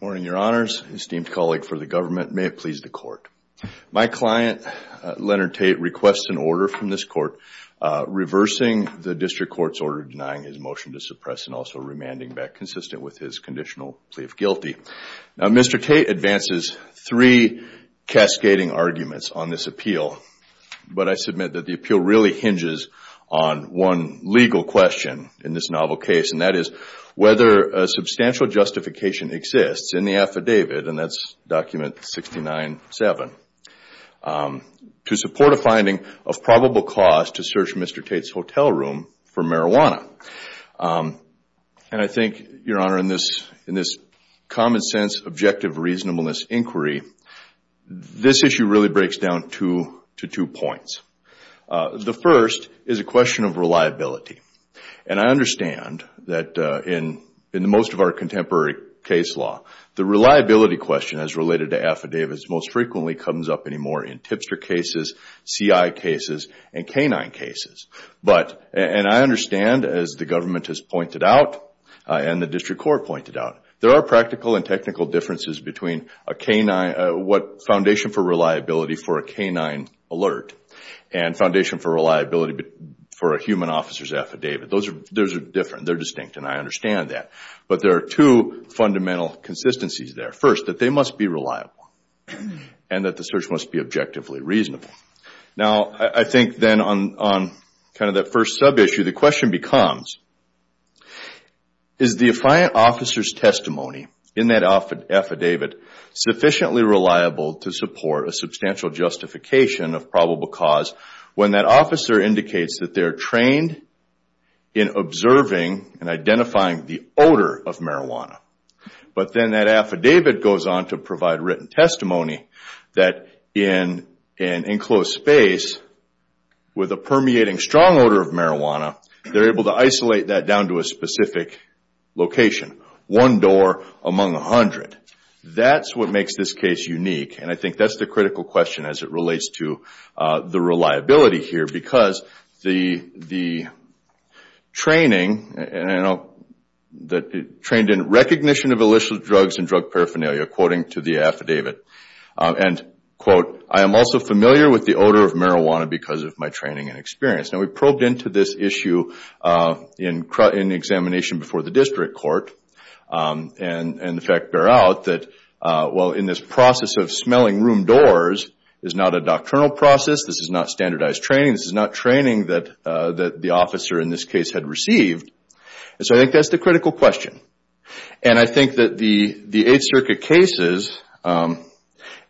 Morning, your honors. Esteemed colleague for the government, may it please the court. My client, Leonard Tate, requests an order from this court reversing the district court's order denying his motion to suppress and also remanding back consistent with his conditional plea of guilty. Now, Mr. Tate advances three cascading arguments on this appeal, but I admit that the appeal really hinges on one legal question in this novel case, and that is whether a substantial justification exists in the affidavit, and that's document 69-7, to support a finding of probable cause to search Mr. Tate's hotel room for marijuana. And I think, your honor, in this common sense objective reasonableness inquiry, this issue really breaks down to two points. The first is a question of reliability, and I understand that in most of our contemporary case law, the reliability question as related to affidavits most frequently comes up anymore in tipster cases, CI cases, and canine cases. But, and I understand as the government has pointed out, and the district court pointed out, there are practical and technical differences between a foundation for reliability for a canine alert and foundation for reliability for a human officer's affidavit. Those are different. They're distinct, and I understand that. But there are two fundamental consistencies there. First, that they must be reliable, and that the search must be objectively reasonable. Now, I think then on kind of that first sub-issue, the question becomes, is the affiant officer's testimony in that affidavit sufficiently reliable to support a substantial justification of probable cause when that officer indicates that they're trained in observing and identifying the odor of marijuana? But then that affidavit goes on to provide written testimony that in an enclosed space with a permeating strong odor of marijuana, they're able to isolate that down to a specific location, one door among 100. That's what makes this case unique, and I think that's the critical question as it relates to the reliability here, because the training, trained in recognition of illicit drugs and drug paraphernalia, quoting to the affidavit, and quote, I am also familiar with the odor of marijuana because of my training and experience. Now, we probed into this issue in the examination before the district court, and in fact, bear out that, well, in this process of smelling room doors is not a doctrinal process, this is not standardized training, this is not training that the officer in this case had received. And so I think that's the critical question. And I think that the Eighth Circuit cases, and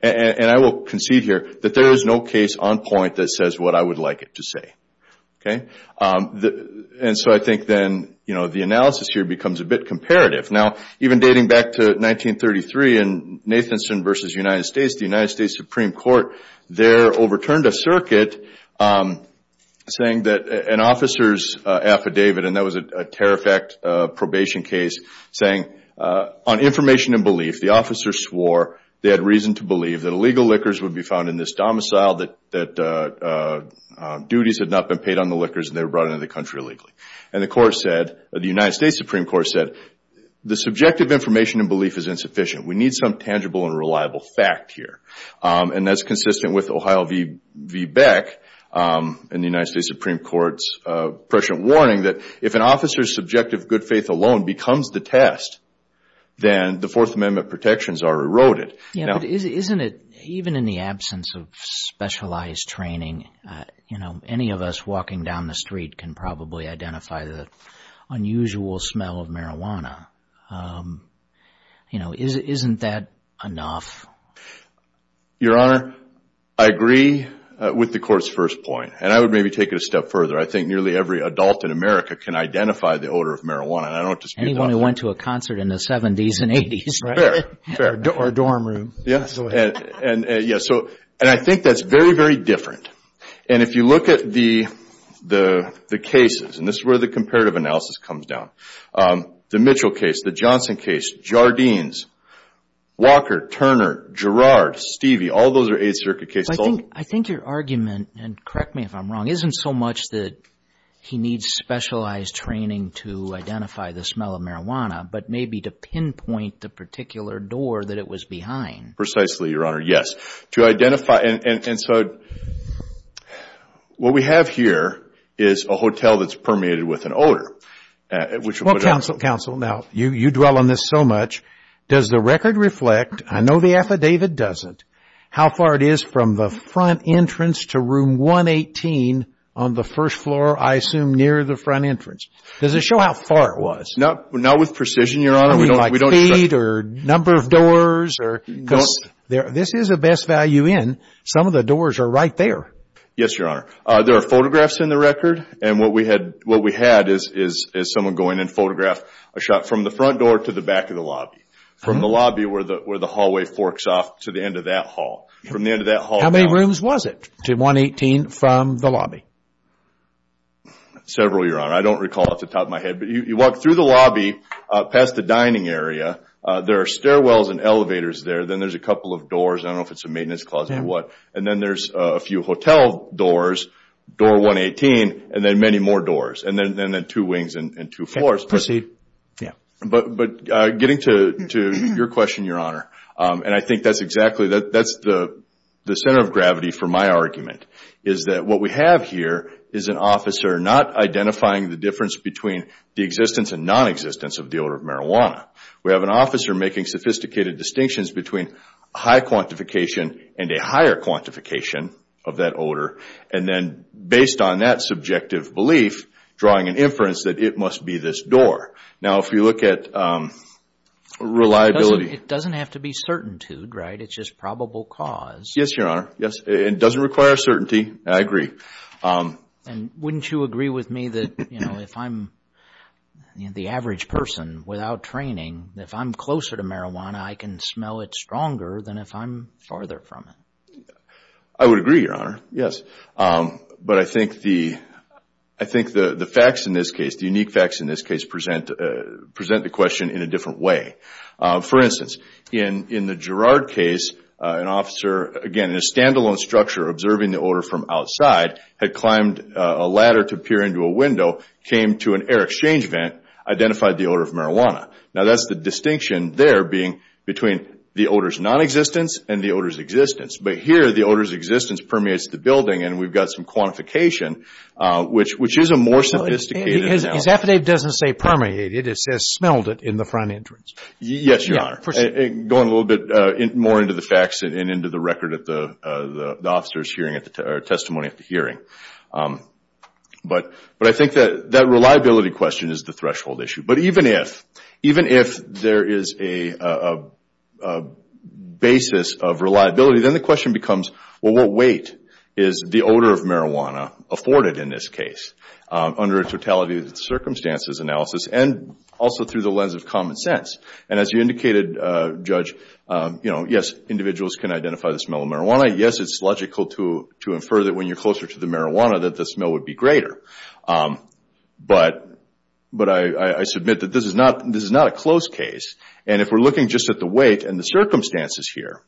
I will concede here, that there is no case on point that says what I would like it to say. And so I think then the analysis here becomes a bit comparative. Now, even dating back to 1933 in Nathanson v. United States, the United States Supreme Court there overturned a circuit saying that an officer's affidavit, and that was a terror fact probation case, saying, on information and belief, the officer swore they had reason to believe that illegal liquors would be found in this domicile, that duties had not been paid on the liquors, and they were brought into the country illegally. And the court said, the United States Supreme Court said, the subjective information and belief is insufficient. We need some tangible and reliable fact here. And that's consistent with Ohio v. Beck and the United States Supreme Court's prescient warning that if an officer's subjective good faith alone becomes the test, then the Fourth Amendment protections are eroded. Yeah, but isn't it, even in the absence of specialized training, you know, any of us walking down the street can probably identify the unusual smell of marijuana. You know, isn't that enough? Your Honor, I agree with the Court's first point. And I would maybe take it a step further. I think nearly every adult in America can identify the odor of marijuana, and I don't dispute that. Anyone who went to a concert in the 70s and 80s. Fair, fair. Or a dorm room. Yeah, and I think that's very, very different. And if you look at the cases, and this is where the comparative analysis comes down, the Mitchell case, the Johnson case, Jardines, Walker, Turner, Girard, Stevie, all those are Eighth Circuit cases. I think your argument, and correct me if I'm wrong, isn't so much that he needs specialized training to identify the smell of marijuana, but maybe to pinpoint the particular door that it was behind. Precisely, Your Honor, yes. To identify, and so what we have here is a hotel that's permeated with an odor. Well, counsel, counsel, now you dwell on this so much. Does the record reflect, I know the David doesn't, how far it is from the front entrance to room 118 on the first floor, I assume, near the front entrance? Does it show how far it was? Not with precision, Your Honor, we don't show. I mean, like feet, or number of doors? Because this is a best value in. Some of the doors are right there. Yes, Your Honor. There are photographs in the record, and what we had is someone going and photographed a shot from the front door to the back of the lobby. From the lobby where the hallway forks off to the end of that hall. From the end of that hall. How many rooms was it to 118 from the lobby? Several, Your Honor. I don't recall off the top of my head, but you walk through the lobby past the dining area. There are stairwells and elevators there. Then there's a couple of doors, I don't know if it's a maintenance closet or what, and then there's a few hotel doors, door 118, and then many more doors, and then two wings and two floors. Proceed. But getting to your question, Your Honor, and I think that's exactly the center of gravity for my argument, is that what we have here is an officer not identifying the difference between the existence and non-existence of the odor of marijuana. We have an officer making sophisticated distinctions between high quantification and a higher quantification of that odor, and then based on that subjective belief, drawing an inference that it must be this door. Now, if you look at reliability... It doesn't have to be certaintude, right? It's just probable cause. Yes, Your Honor. Yes. It doesn't require certainty. I agree. Wouldn't you agree with me that if I'm the average person without training, if I'm closer to marijuana, I can smell it stronger than if I'm farther from it? I would agree, Your Honor. Yes. But I think the facts in this case, the unique facts in this case, present the question in a different way. For instance, in the Girard case, an officer, again, in a standalone structure observing the odor from outside, had climbed a ladder to peer into a window, came to an air exchange vent, identified the odor of marijuana. Now, that's the distinction there being between the odor's non-existence and the odor's existence. But here, the odor's existence permeates the building, and we've got some quantification, which is a more sophisticated analogy. His affidavit doesn't say permeated. It says smelled it in the front entrance. Yes, Your Honor. Going a little bit more into the facts and into the record at the officer's hearing or testimony at the hearing. But I think that reliability question is the threshold issue. But even if there is a basis of reliability, then the question becomes, well, what weight is the odor of marijuana afforded in this case under a totality of circumstances analysis and also through the lens of common sense? As you indicated, Judge, yes, individuals can identify the smell of marijuana. Yes, it's logical to infer that when you're closer to the marijuana that the smell would be greater. But I submit that this is not a close case. And if we're looking just at the weight and the circumstances here,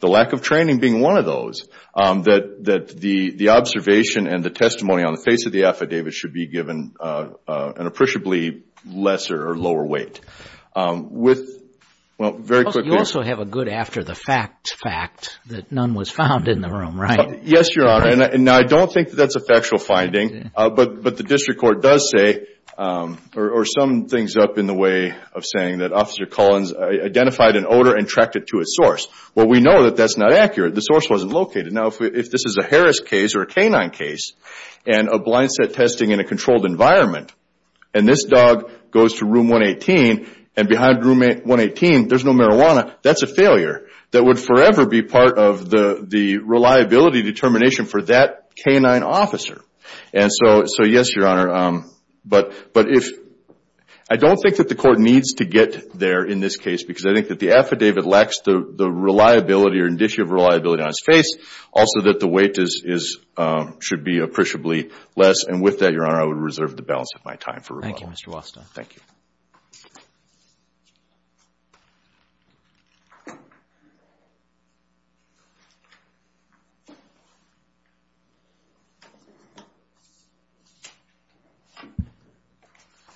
the lack of training being one of those, that the observation and the testimony on the face of the affidavit should be given an appreciably lesser or lower weight. You also have a good after the fact fact that none was found in the room, right? Yes, Your Honor. And I don't think that's a factual finding. But the district court does say or sum things up in the way of saying that Officer Collins identified an odor and tracked it to its source. Well, we know that that's not accurate. The source wasn't located. Now, if this is a Harris case or a K-9 case and a blind set testing in a controlled environment and this dog goes to room 118 and behind room 118 there's no marijuana, that's a failure that would forever be part of the reliability determination for that K-9 officer. And so, yes, Your Honor. But I don't think that the court needs to get there in this case because I think that the affidavit lacks the reliability or indicia of reliability on its face. Also, that the weight should be appreciably less. And with that, Your Honor, I would reserve the balance of my time for rebuttal. Thank you, Mr. Waston. Thank you.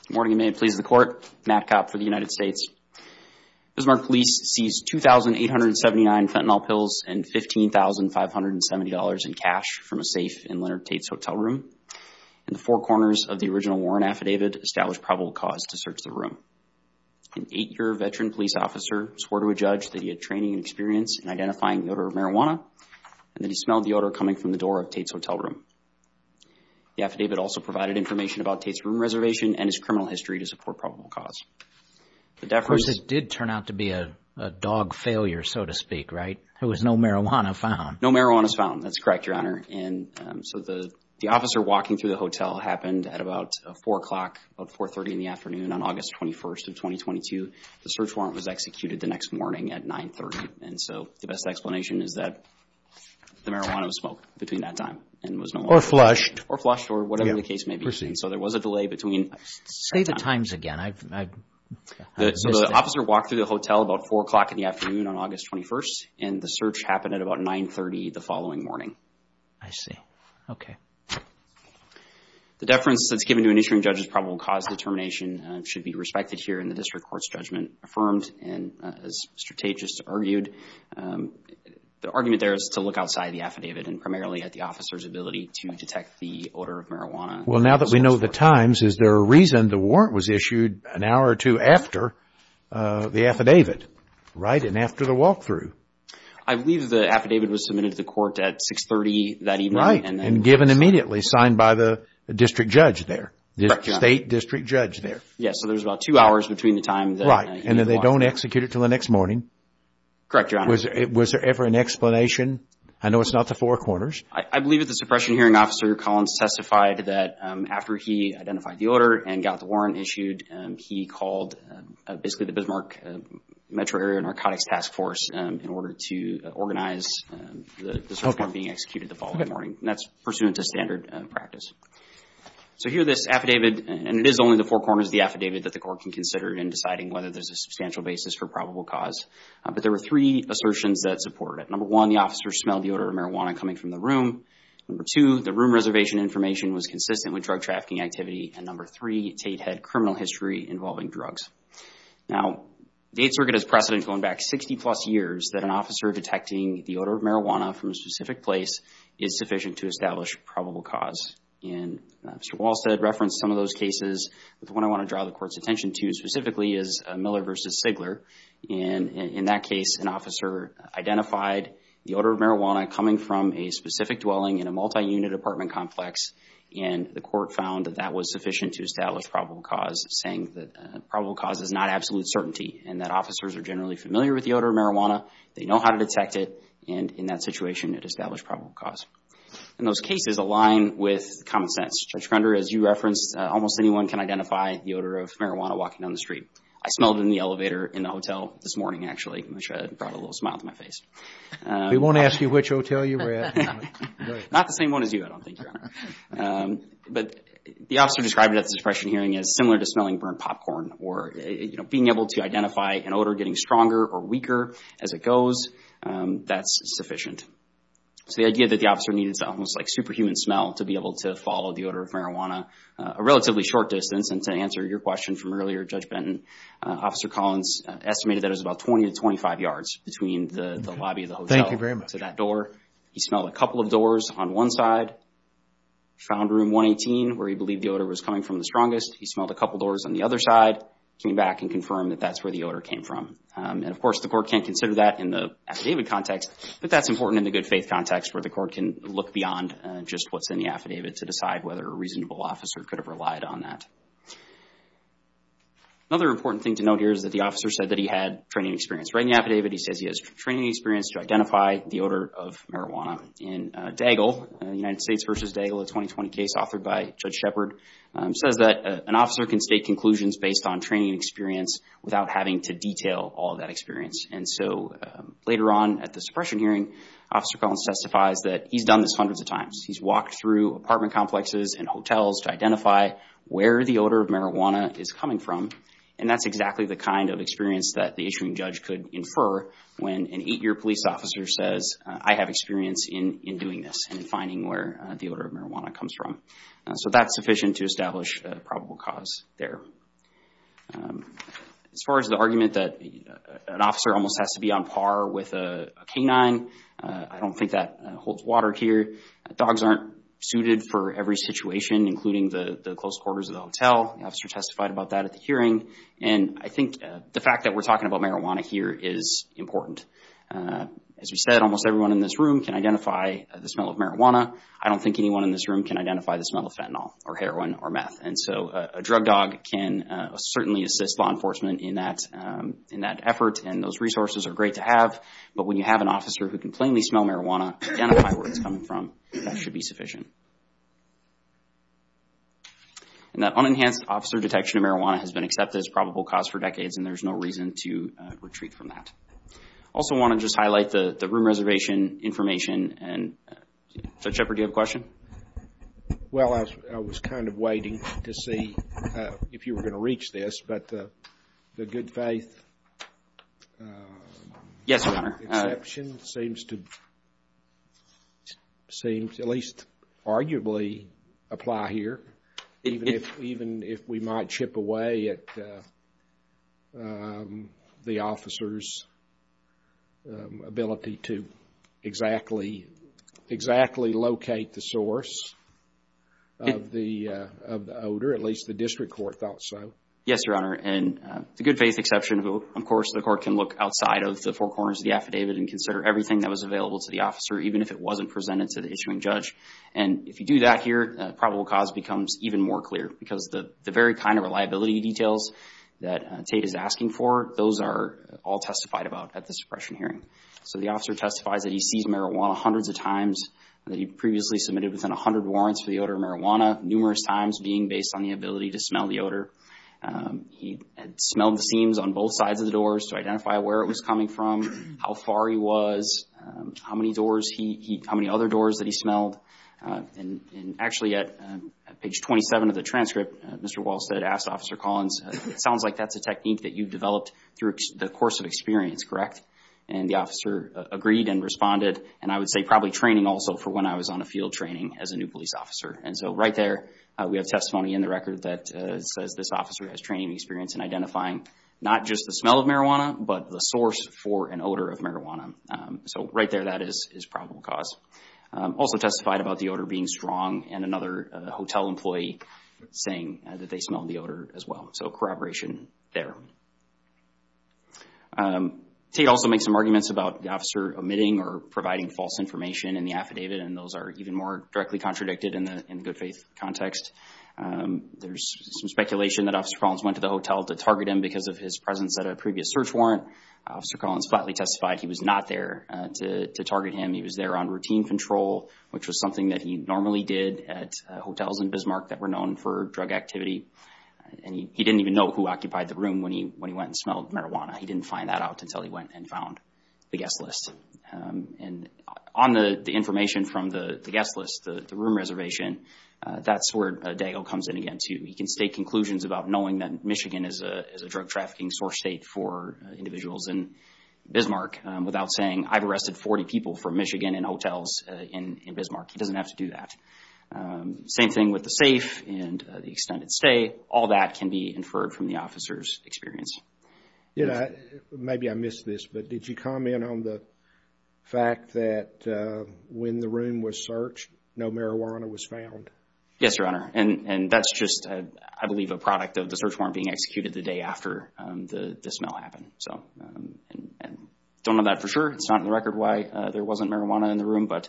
Good morning, and may it please the court. Matt Kopp for the United States. Bismarck Police seized 2,879 fentanyl pills and $15,570 in cash from a safe in Leonard Tate's hotel room. In the four corners of the original warrant affidavit established probable cause to search the room. An eight-year veteran police officer swore to a judge that he had training and experience in identifying the odor of marijuana and that he smelled the odor coming from the door of Tate's hotel room. The affidavit also provided information about Tate's room reservation and his criminal history to support probable cause. Of course, it did turn out to be a dog failure, so to speak, right? There was no marijuana found. No marijuana was found. That's correct, Your Honor. And so, the officer walking through the hotel happened at about 4 o'clock, about 4.30 in the afternoon on August 21st of 2022. The search warrant was executed the next morning at 9.30. And so, the best explanation is that the marijuana was smoked between that time and there was no marijuana found. Or flushed. Or flushed, or whatever the case may be. And so, there was a delay between that time and that time. Say the times again. I've missed it. So, the officer walked through the hotel about 4 o'clock in the afternoon on August 21st, and the search happened at about 9.30 the following morning. I see. Okay. The deference that's given to an issuing judge's probable cause determination should be respected here in the district court's judgment affirmed and, as Mr. Tate just argued, the argument there is to look outside the affidavit and primarily at the officer's ability to detect the odor of marijuana. Well, now that we know the times, is there a reason the warrant was issued an hour or two after the affidavit? Right? And after the walkthrough? I believe the affidavit was submitted to the court at 6.30 that evening. Right. And given immediately. Signed by the district judge there. Correct, Your Honor. The state district judge there. Yes. So, there's about two hours between the time. Right. And then they don't execute it until the next morning. Correct, Your Honor. Was there ever an explanation? I know it's not the Four Corners. I believe that the suppression hearing officer, Collins, testified that after he identified the odor and got the warrant issued, he called basically the Bismarck Metro Area Narcotics Task Force in order to organize the search warrant being executed the following morning. That's pursuant to standard practice. So, here this affidavit, and it is only the Four Corners of the affidavit that the court can consider in deciding whether there's a substantial basis for probable cause. But there were three assertions that support it. Number one, the officer smelled the odor of marijuana coming from the room. Number two, the room reservation information was consistent with drug trafficking activity. And number three, Tate had criminal history involving drugs. Now, the Eighth Circuit has precedent going back 60 plus years that an officer detecting the odor of marijuana from a specific place is sufficient to establish probable cause. And Mr. Wallstead referenced some of those cases. The one I want to draw the court's attention to specifically is Miller v. Sigler. And in that case, an officer identified the odor of marijuana coming from a specific dwelling in a multi-unit apartment complex. And the court found that that was sufficient to establish probable cause, saying that probable cause is not absolute certainty, and that officers are generally familiar with the odor of marijuana. They know how to detect it. And in that situation, it established probable cause. And those cases align with common sense. Judge Grunder, as you referenced, almost anyone can identify the odor of marijuana walking down the street. I smelled it in the elevator in the hotel this morning, actually, which brought a little smile to my face. We won't ask you which hotel you were at. Not the same one as you, I don't think, Your Honor. But the officer described it at the suppression hearing as similar to smelling burnt popcorn or, you know, being able to identify an odor getting stronger or weaker as it goes, that's sufficient. So the idea that the officer needs almost like superhuman smell to be able to follow the odor of marijuana a relatively short distance, and to answer your question from earlier, Judge Benton, Officer Collins estimated that it was about 20 to 25 yards between the lobby of the hotel to that door. He smelled a couple of doors on one side, found room 118 where he believed the odor was coming from the strongest. He smelled a couple doors on the other side, came back and confirmed that that's where the odor came from. And, of course, the court can't consider that in the affidavit context, but that's important in the good faith context where the court can look beyond just what's in the affidavit to decide whether a reasonable officer could have relied on that. Another important thing to note here is that the officer said that he had training experience. Right in the affidavit, he says he has training experience to identify the odor of marijuana. In Daigle, United States v. Daigle, a 2020 case authored by Judge Shepard, says that an officer can state conclusions based on training experience without having to detail all that experience. And so later on at the suppression hearing, Officer Collins testifies that he's done this hundreds of times. He's walked through apartment complexes and hotels to identify where the odor of marijuana is coming from, and that's exactly the kind of experience that the issuing judge could infer when an eight-year police officer says, I have experience in doing this and finding where the odor of marijuana comes from. So that's sufficient to establish a probable cause there. As far as the argument that an officer almost has to be on par with a canine, I don't think that holds water here. Dogs aren't suited for every situation, including the close quarters of the hotel. The officer testified about that at the hearing. And I think the fact that we're talking about marijuana here is important. As we said, almost everyone in this room can identify the smell of marijuana. I don't think anyone in this room can identify the smell of fentanyl or heroin or meth. And so a drug dog can certainly assist law enforcement in that effort, and those resources are great to have. But when you have an officer who can plainly smell marijuana, identify where it's coming from, that should be sufficient. And that unenhanced officer detection of marijuana has been accepted as a probable cause for decades, and there's no reason to retreat from that. I also want to just highlight the room reservation information. Judge Shepard, do you have a question? Well, I was kind of waiting to see if you were going to reach this, but the good faith Yes, Your Honor. exception seems to at least arguably apply here. Even if we might chip away at the officer's ability to exactly locate the source of the odor, at least the district court thought so. Yes, Your Honor. And the good faith exception, of course, the court can look outside of the four corners of the affidavit and consider everything that was available to the officer, even if it wasn't presented to the issuing judge. And if you do that here, probable cause becomes even more clear, because the very kind of reliability details that Tate is asking for, those are all testified about at the suppression hearing. So the officer testifies that he sees marijuana hundreds of times, that he previously submitted within 100 warrants for the odor of marijuana, numerous times being based on the ability to smell the odor. He had smelled the seams on both sides of the doors to identify where it was coming from, how far he was, how many other doors that he smelled. And actually at page 27 of the transcript, Mr. Walsted asked Officer Collins, it sounds like that's a technique that you developed through the course of experience, correct? And the officer agreed and responded, and I would say probably training also for when I was on a field training as a new police officer. And so right there, we have testimony in the record that says this officer has training experience in identifying not just the smell of marijuana, but the source for an odor of So right there, that is probable cause. Also testified about the odor being strong, and another hotel employee saying that they smelled the odor as well. So corroboration there. Tate also makes some arguments about the officer omitting or providing false information in affidavit, and those are even more directly contradicted in the good faith context. There's some speculation that Officer Collins went to the hotel to target him because of his presence at a previous search warrant. Officer Collins flatly testified he was not there to target him. He was there on routine control, which was something that he normally did at hotels in Bismarck that were known for drug activity. And he didn't even know who occupied the room when he went and smelled marijuana. He didn't find that out until he went and found the guest list. And on the information from the guest list, the room reservation, that's where Dago comes in again, too. He can state conclusions about knowing that Michigan is a drug trafficking source state for individuals in Bismarck without saying, I've arrested 40 people from Michigan and hotels in Bismarck. He doesn't have to do that. Same thing with the safe and the extended stay. All that can be inferred from the officer's experience. Maybe I missed this, but did you comment on the fact that when the room was searched, no marijuana was found? Yes, Your Honor. And that's just, I believe, a product of the search warrant being executed the day after the smell happened. Don't know that for sure. It's not on the record why there wasn't marijuana in the room, but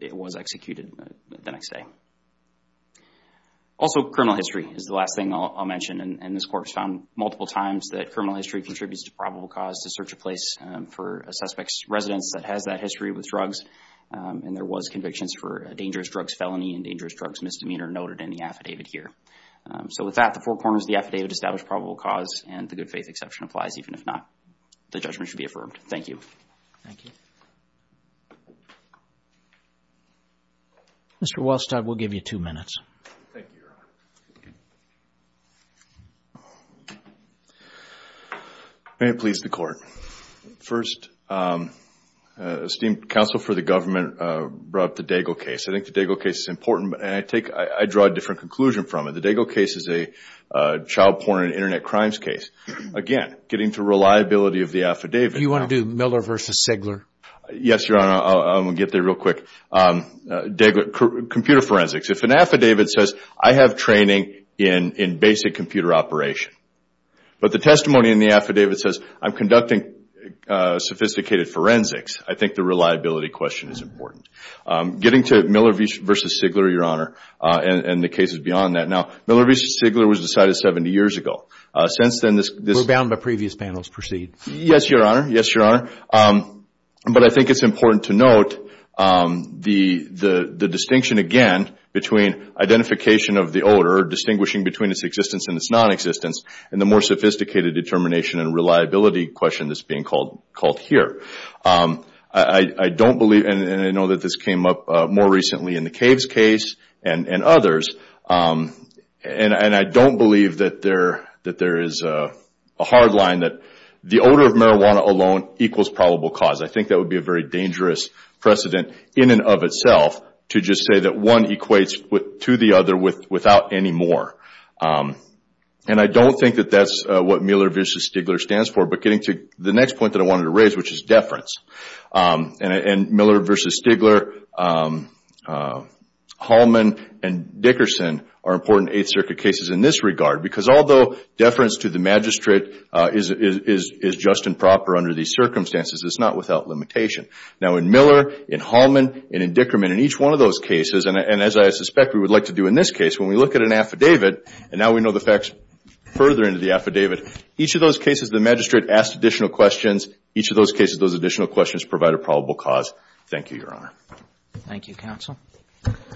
it was executed the next day. Also, criminal history is the last thing I'll mention. And this court has found multiple times that criminal history contributes to probable cause to search a place for a suspect's residence that has that history with drugs. And there was convictions for a dangerous drugs felony and dangerous drugs misdemeanor noted in the affidavit here. So with that, the four corners of the affidavit establish probable cause, and the good faith exception applies even if not. The judgment should be affirmed. Thank you. Thank you. Mr. Wolstad, we'll give you two minutes. Thank you, Your Honor. May it please the Court. First, esteemed counsel for the government brought up the Daigle case. I think the Daigle case is important, and I draw a different conclusion from it. The Daigle case is a child porn and Internet crimes case. Again, getting to reliability of the affidavit. Do you want to do Miller v. Sigler? Yes, Your Honor. I'm going to get there real quick. Computer forensics. If an affidavit says, I have training in basic computer operation, but the testimony in the affidavit says, I'm conducting sophisticated forensics, I think the reliability question is important. Getting to Miller v. Sigler, Your Honor, and the cases beyond that. Now, Miller v. Sigler was decided 70 years ago. Since then, this... We're bound by previous panels. Yes, Your Honor. Yes, Your Honor. But I think it's important to note the distinction, again, between identification of the odor, distinguishing between its existence and its non-existence, and the more sophisticated determination and reliability question that's being called here. I don't believe, and I know that this came up more recently in the Caves case and others, and I don't believe that there is a hard line that the odor of marijuana alone equals probable cause. I think that would be a very dangerous precedent in and of itself to just say that one equates to the other without any more. And I don't think that that's what Miller v. Sigler stands for, but getting to the next point that I wanted to raise, which is deference. And Miller v. Sigler, Hallman, and Dickerson are important Eighth Circuit cases in this regard, because although deference to the magistrate is just and proper under these circumstances, it's not without limitation. Now, in Miller, in Hallman, and in Dickerman, in each one of those cases, and as I suspect we would like to do in this case, when we look at an affidavit, and now we know the facts further into the affidavit, each of those cases the magistrate asked additional questions, each of those cases those additional questions provide a probable cause. Thank you, Your Honor. Thank you, Counsel.